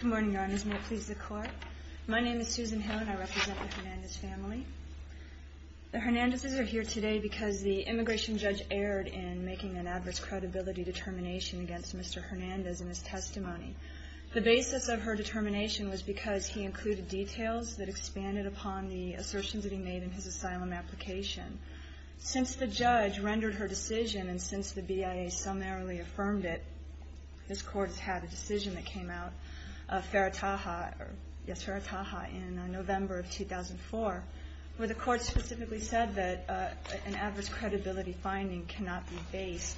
Good morning, Your Honors. May it please the Court. My name is Susan Hill and I represent the Hernandez family. The Hernandez's are here today because the immigration judge erred in making an adverse credibility determination against Mr. Hernandez in his testimony. The basis of her determination was because he included details that expanded upon the assertions that he made in his asylum application. Since the judge rendered her decision and since the BIA summarily affirmed it, this Court has had a decision that came out of Ferretaja in November of 2004, where the Court specifically said that an adverse credibility finding cannot be based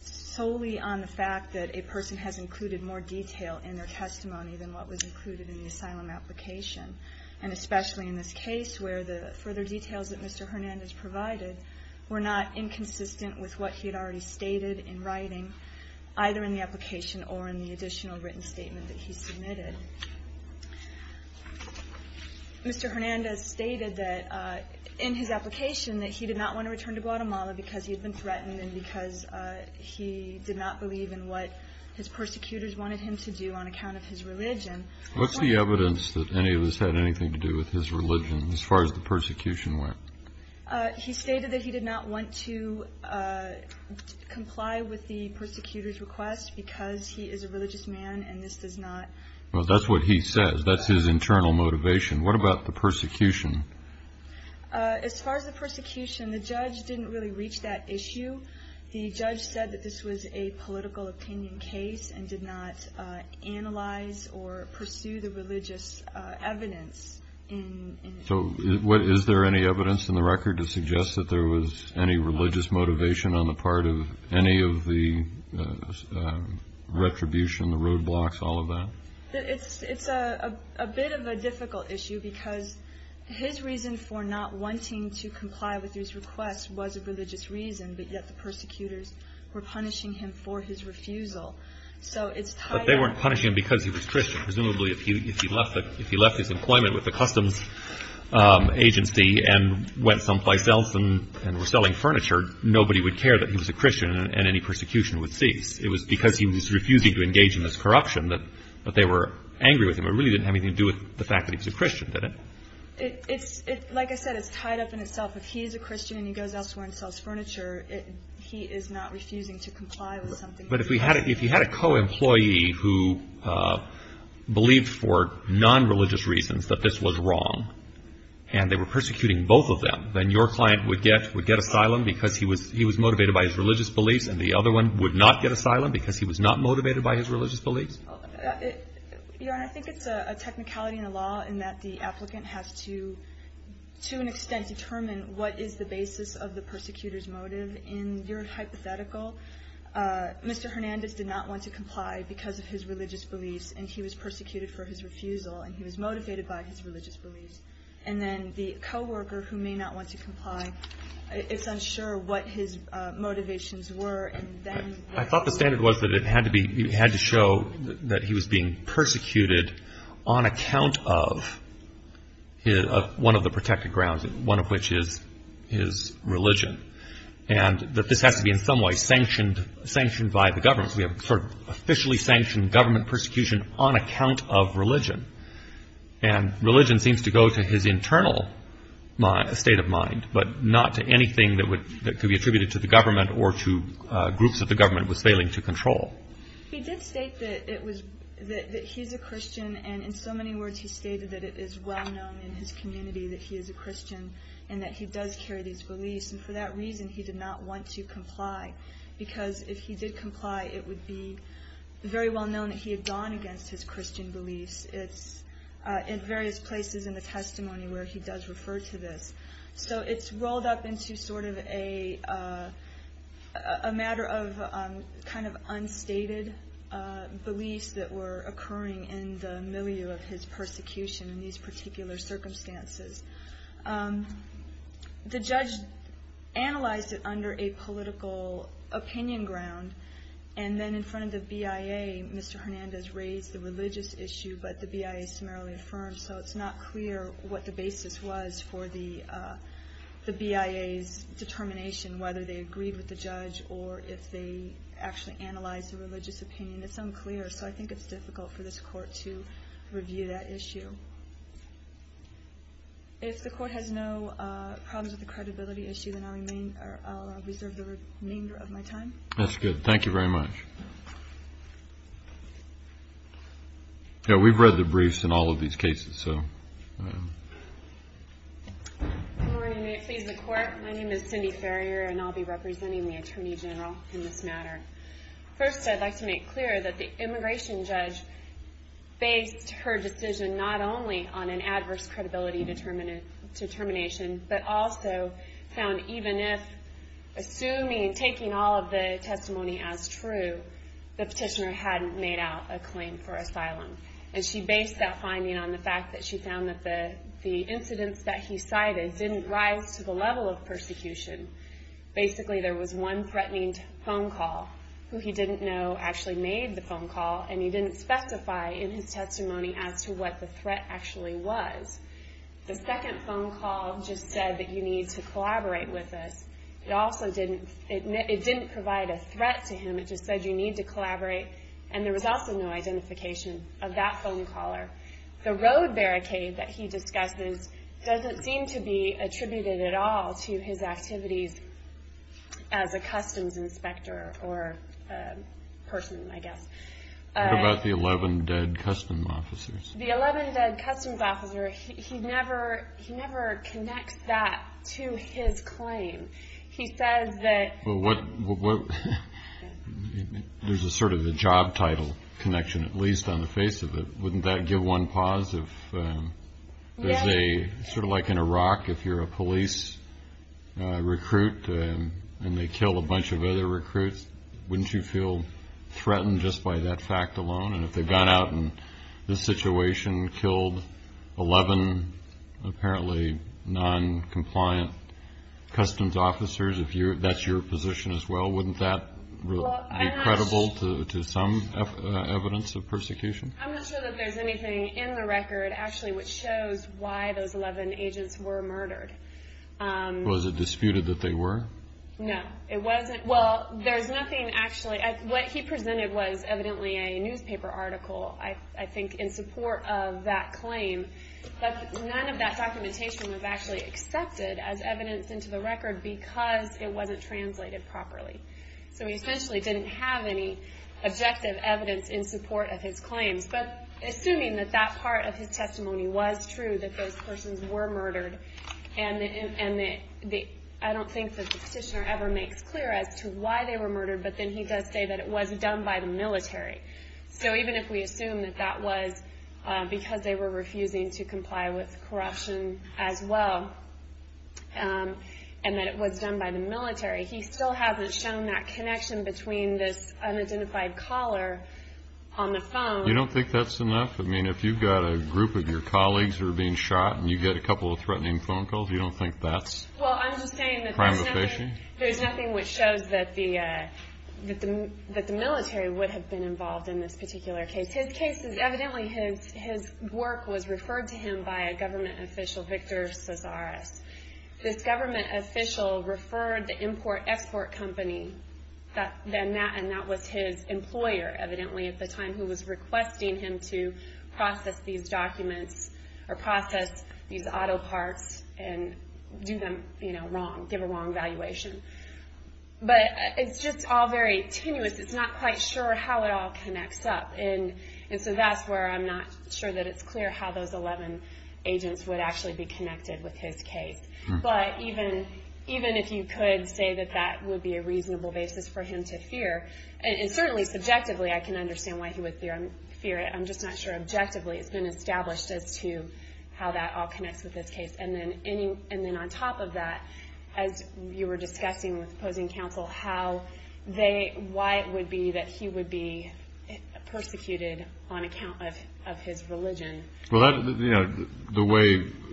solely on the fact that a person has included more detail in their testimony than what was included in the asylum application. And especially in this case where the further details that Mr. Hernandez provided were not inconsistent with what he had already stated in writing, either in the application or in the additional written statement that he submitted. Mr. Hernandez stated that in his application that he did not want to return to Guatemala because he had been threatened and because he did not believe in what his persecutors wanted him to do on account of his religion. What's the evidence that any of this had anything to do with his religion as far as the persecution went? He stated that he did not want to comply with the persecutors' request because he is a religious man and this does not... Well, that's what he says. That's his internal motivation. What about the persecution? As far as the persecution, the judge didn't really reach that issue. The judge said that this was a political opinion case and did not analyze or pursue the religious evidence. So is there any evidence in the record to suggest that there was any religious motivation on the part of any of the retribution, the roadblocks, all of that? It's a bit of a difficult issue because his reason for not wanting to comply with his request was a religious reason, but yet the persecutors were punishing him for his refusal. But they weren't punishing him because he was Christian. Presumably if he left his employment with the customs agency and went someplace else and were selling furniture, nobody would care that he was a Christian and any persecution would cease. It was because he was refusing to engage in this corruption that they were angry with him. It really didn't have anything to do with the fact that he was a Christian, did it? Like I said, it's tied up in itself. If he's a Christian and he goes elsewhere and sells furniture, he is not refusing to comply with something... But if he had a co-employee who believed for non-religious reasons that this was wrong and they were persecuting both of them, then your client would get asylum because he was motivated by his religious beliefs and the other one would not get asylum because he was not motivated by his religious beliefs? Your Honor, I think it's a technicality in the law in that the applicant has to, to an extent, determine what is the basis of the persecutor's motive. In your hypothetical, Mr. Hernandez did not want to comply because of his religious beliefs and he was persecuted for his refusal and he was motivated by his religious beliefs. And then the co-worker, who may not want to comply, is unsure what his motivations were and then... I thought the standard was that it had to show that he was being persecuted on account of one of the protected grounds, one of which is his religion, and that this has to be in some way sanctioned by the government. We have sort of officially sanctioned government persecution on account of religion. And religion seems to go to his internal state of mind, but not to anything that could be attributed to the government or to groups that the government was failing to control. He did state that he's a Christian and in so many words he stated that it is well known in his community that he is a Christian and that he does carry these beliefs. And for that reason, he did not want to comply because if he did comply, it would be very well known that he had gone against his Christian beliefs. It's in various places in the testimony where he does refer to this. So it's rolled up into sort of a matter of kind of unstated beliefs that were occurring in the milieu of his persecution in these particular circumstances. The judge analyzed it under a political opinion ground and then in front of the BIA, Mr. Hernandez raised the religious issue, but the BIA summarily affirmed. So it's not clear what the basis was for the BIA's determination, whether they agreed with the judge or if they actually analyzed the religious opinion. It's unclear, so I think it's difficult for this court to review that issue. If the court has no problems with the credibility issue, then I'll reserve the remainder of my time. That's good. Thank you very much. We've read the briefs in all of these cases. Good morning. May it please the Court. My name is Cindy Ferrier and I'll be representing the Attorney General in this matter. First, I'd like to make clear that the immigration judge based her decision not only on an adverse credibility determination, but also found even if, assuming, taking all of the testimony as true, the petitioner hadn't made out a claim for asylum. And she based that finding on the fact that she found that the incidents that he cited didn't rise to the level of persecution. Basically, there was one threatening phone call who he didn't know actually made the phone call and he didn't specify in his testimony as to what the threat actually was. The second phone call just said that you need to collaborate with us. It also didn't provide a threat to him. It just said you need to collaborate. And there was also no identification of that phone caller. The road barricade that he discussed doesn't seem to be attributed at all to his activities as a customs inspector or person, I guess. What about the 11 dead customs officers? The 11 dead customs officers, he never connects that to his claim. He says that... There's a sort of a job title connection, at least on the face of it. Wouldn't that give one pause? Sort of like in Iraq, if you're a police recruit and they kill a bunch of other recruits, wouldn't you feel threatened just by that fact alone? And if they've gone out in this situation, killed 11 apparently noncompliant customs officers, if that's your position as well, wouldn't that be credible to some evidence of persecution? I'm not sure that there's anything in the record actually which shows why those 11 agents were murdered. Was it disputed that they were? No, it wasn't. Well, there's nothing actually... What he presented was evidently a newspaper article, I think, in support of that claim. But none of that documentation was actually accepted as evidence into the record because it wasn't translated properly. So he essentially didn't have any objective evidence in support of his claims. But assuming that that part of his testimony was true, that those persons were murdered, and I don't think that the petitioner ever makes clear as to why they were murdered, but then he does say that it was done by the military. So even if we assume that that was because they were refusing to comply with corruption as well and that it was done by the military, he still hasn't shown that connection between this unidentified caller on the phone... You don't think that's enough? I mean, if you've got a group of your colleagues who are being shot and you get a couple of threatening phone calls, you don't think that's... Well, I'm just saying that there's nothing which shows that the military would have been involved in this particular case. Evidently, his work was referred to him by a government official, Victor Cesaris. This government official referred the import-export company, and that was his employer, evidently, at the time, who was requesting him to process these documents or process these auto parts and do them wrong, give a wrong valuation. But it's just all very tenuous. It's not quite sure how it all connects up, and so that's where I'm not sure that it's clear how those 11 agents would actually be connected with his case. But even if you could say that that would be a reasonable basis for him to fear, and certainly subjectively I can understand why he would fear it. I'm just not sure objectively it's been established as to how that all connects with this case. And then on top of that, as you were discussing with opposing counsel, why it would be that he would be persecuted on account of his religion. Well,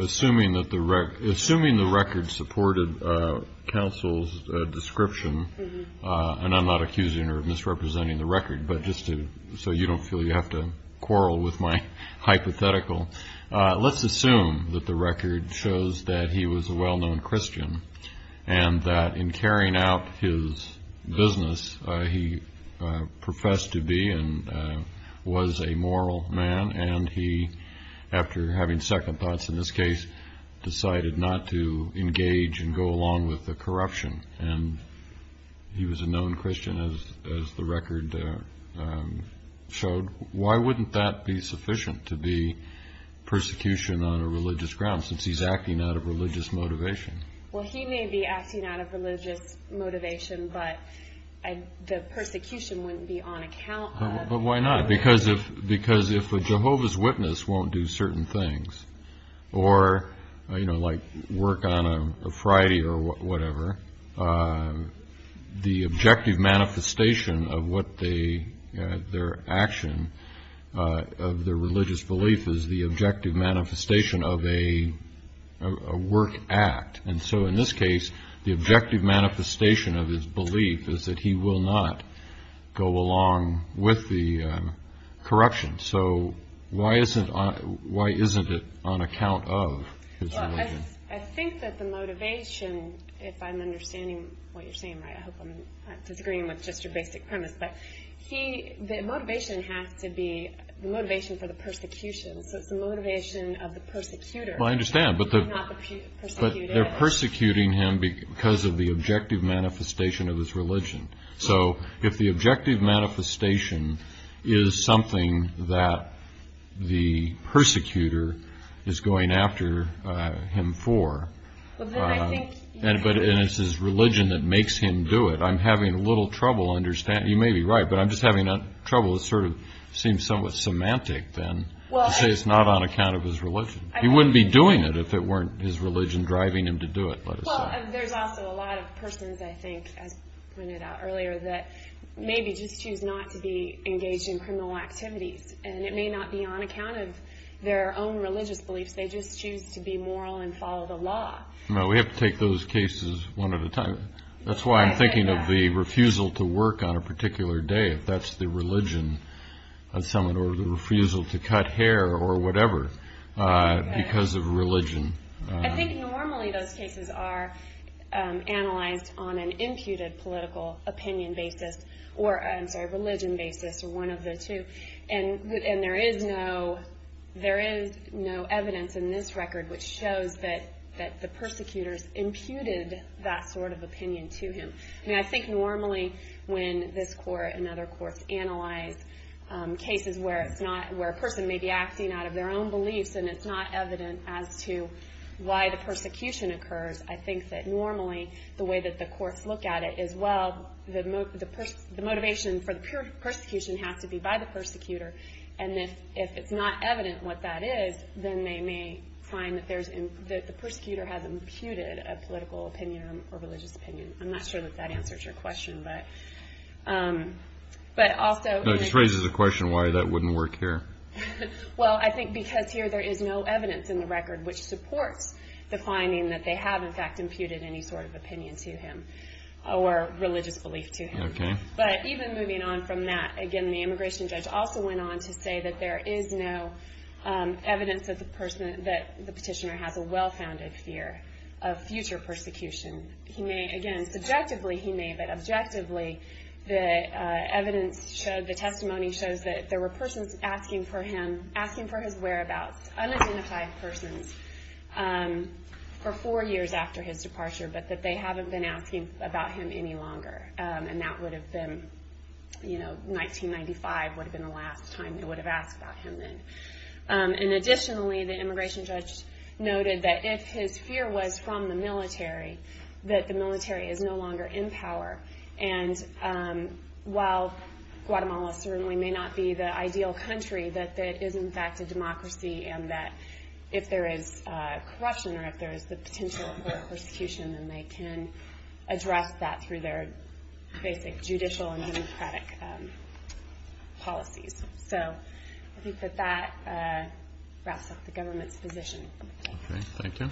assuming the record supported counsel's description, and I'm not accusing or misrepresenting the record, but just so you don't feel you have to quarrel with my hypothetical, let's assume that the record shows that he was a well-known Christian and that in carrying out his business he professed to be and was a moral man and he, after having second thoughts in this case, decided not to engage and go along with the corruption. And he was a known Christian, as the record showed. Why wouldn't that be sufficient to be persecution on a religious ground, since he's acting out of religious motivation? Well, he may be acting out of religious motivation, but the persecution wouldn't be on account of... But why not? Because if a Jehovah's Witness won't do certain things, or, you know, like work on a Friday or whatever, the objective manifestation of their action, of their religious belief, is the objective manifestation of a work act. And so in this case, the objective manifestation of his belief is that he will not go along with the corruption. So why isn't it on account of his religion? Well, I think that the motivation, if I'm understanding what you're saying right, I hope I'm not disagreeing with just your basic premise, but the motivation has to be the motivation for the persecution. So it's the motivation of the persecutor. Well, I understand, but they're persecuting him because of the objective manifestation of his religion. So if the objective manifestation is something that the persecutor is going after him for, and it's his religion that makes him do it, I'm having a little trouble understanding... You may be right, but I'm just having trouble. It sort of seems somewhat semantic, then, to say it's not on account of his religion. He wouldn't be doing it if it weren't his religion driving him to do it, let us say. Well, there's also a lot of persons, I think, as pointed out earlier, that maybe just choose not to be engaged in criminal activities, and it may not be on account of their own religious beliefs. They just choose to be moral and follow the law. Well, we have to take those cases one at a time. That's why I'm thinking of the refusal to work on a particular day, if that's the religion of someone, or the refusal to cut hair, or whatever, because of religion. I think normally those cases are analyzed on an imputed political opinion basis, or, I'm sorry, religion basis, or one of the two. And there is no evidence in this record which shows that the persecutors imputed that sort of opinion to him. I mean, I think normally when this court and other courts analyze cases where a person may be acting out of their own beliefs, and it's not evident as to why the persecution occurs, I think that normally the way that the courts look at it is, well, the motivation for the persecution has to be by the persecutor, and if it's not evident what that is, then they may find that the persecutor has imputed a political opinion or religious opinion. I'm not sure that that answers your question, but also... No, it just raises the question why that wouldn't work here. Well, I think because here there is no evidence in the record which supports the finding that they have, in fact, imputed any sort of opinion to him, or religious belief to him. Okay. But even moving on from that, again, the immigration judge also went on to say that there is no evidence that the petitioner has a well-founded fear of future persecution. He may, again, subjectively he may, but objectively, the testimony shows that there were persons asking for his whereabouts, unidentified persons, for four years after his departure, but that they haven't been asking about him any longer, and that would have been, you know, 1995 would have been the last time they would have asked about him then. And additionally, the immigration judge noted that if his fear was from the military, that the military is no longer in power, and while Guatemala certainly may not be the ideal country, that it is, in fact, a democracy, and that if there is corruption or if there is the potential for persecution, then they can address that through their basic judicial and democratic policies. So I think that that wraps up the government's position. Okay. Thank you.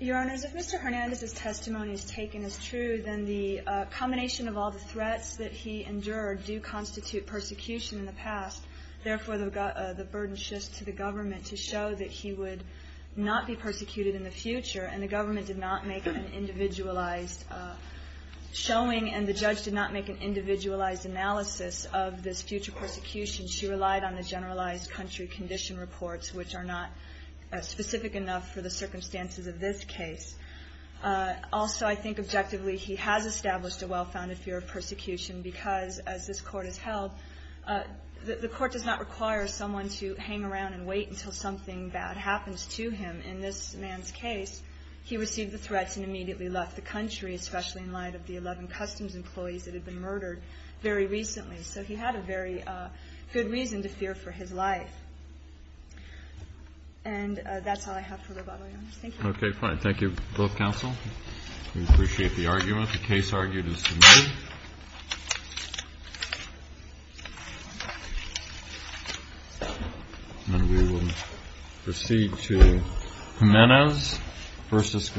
Your Honors, if Mr. Hernandez's testimony is taken as true, then the combination of all the threats that he endured do constitute persecution in the past. Therefore, the burden shifts to the government to show that he would not be persecuted in the future, and the government did not make an individualized showing, and the judge did not make an individualized analysis of this future persecution. She relied on the generalized country condition reports, which are not specific enough for the circumstances of this case. Also, I think objectively, he has established a well-founded fear of persecution because, as this Court has held, the Court does not require someone to hang around and wait until something bad happens to him. In this man's case, he received the threats and immediately left the country, especially in light of the 11 customs employees that had been murdered very recently. So he had a very good reason to fear for his life. And that's all I have for the rebuttal, Your Honors. Thank you. Okay. Fine. Thank you, both counsel. We appreciate the argument. The case argued is submitted. And we will proceed to Jimenez v. Gonzalez.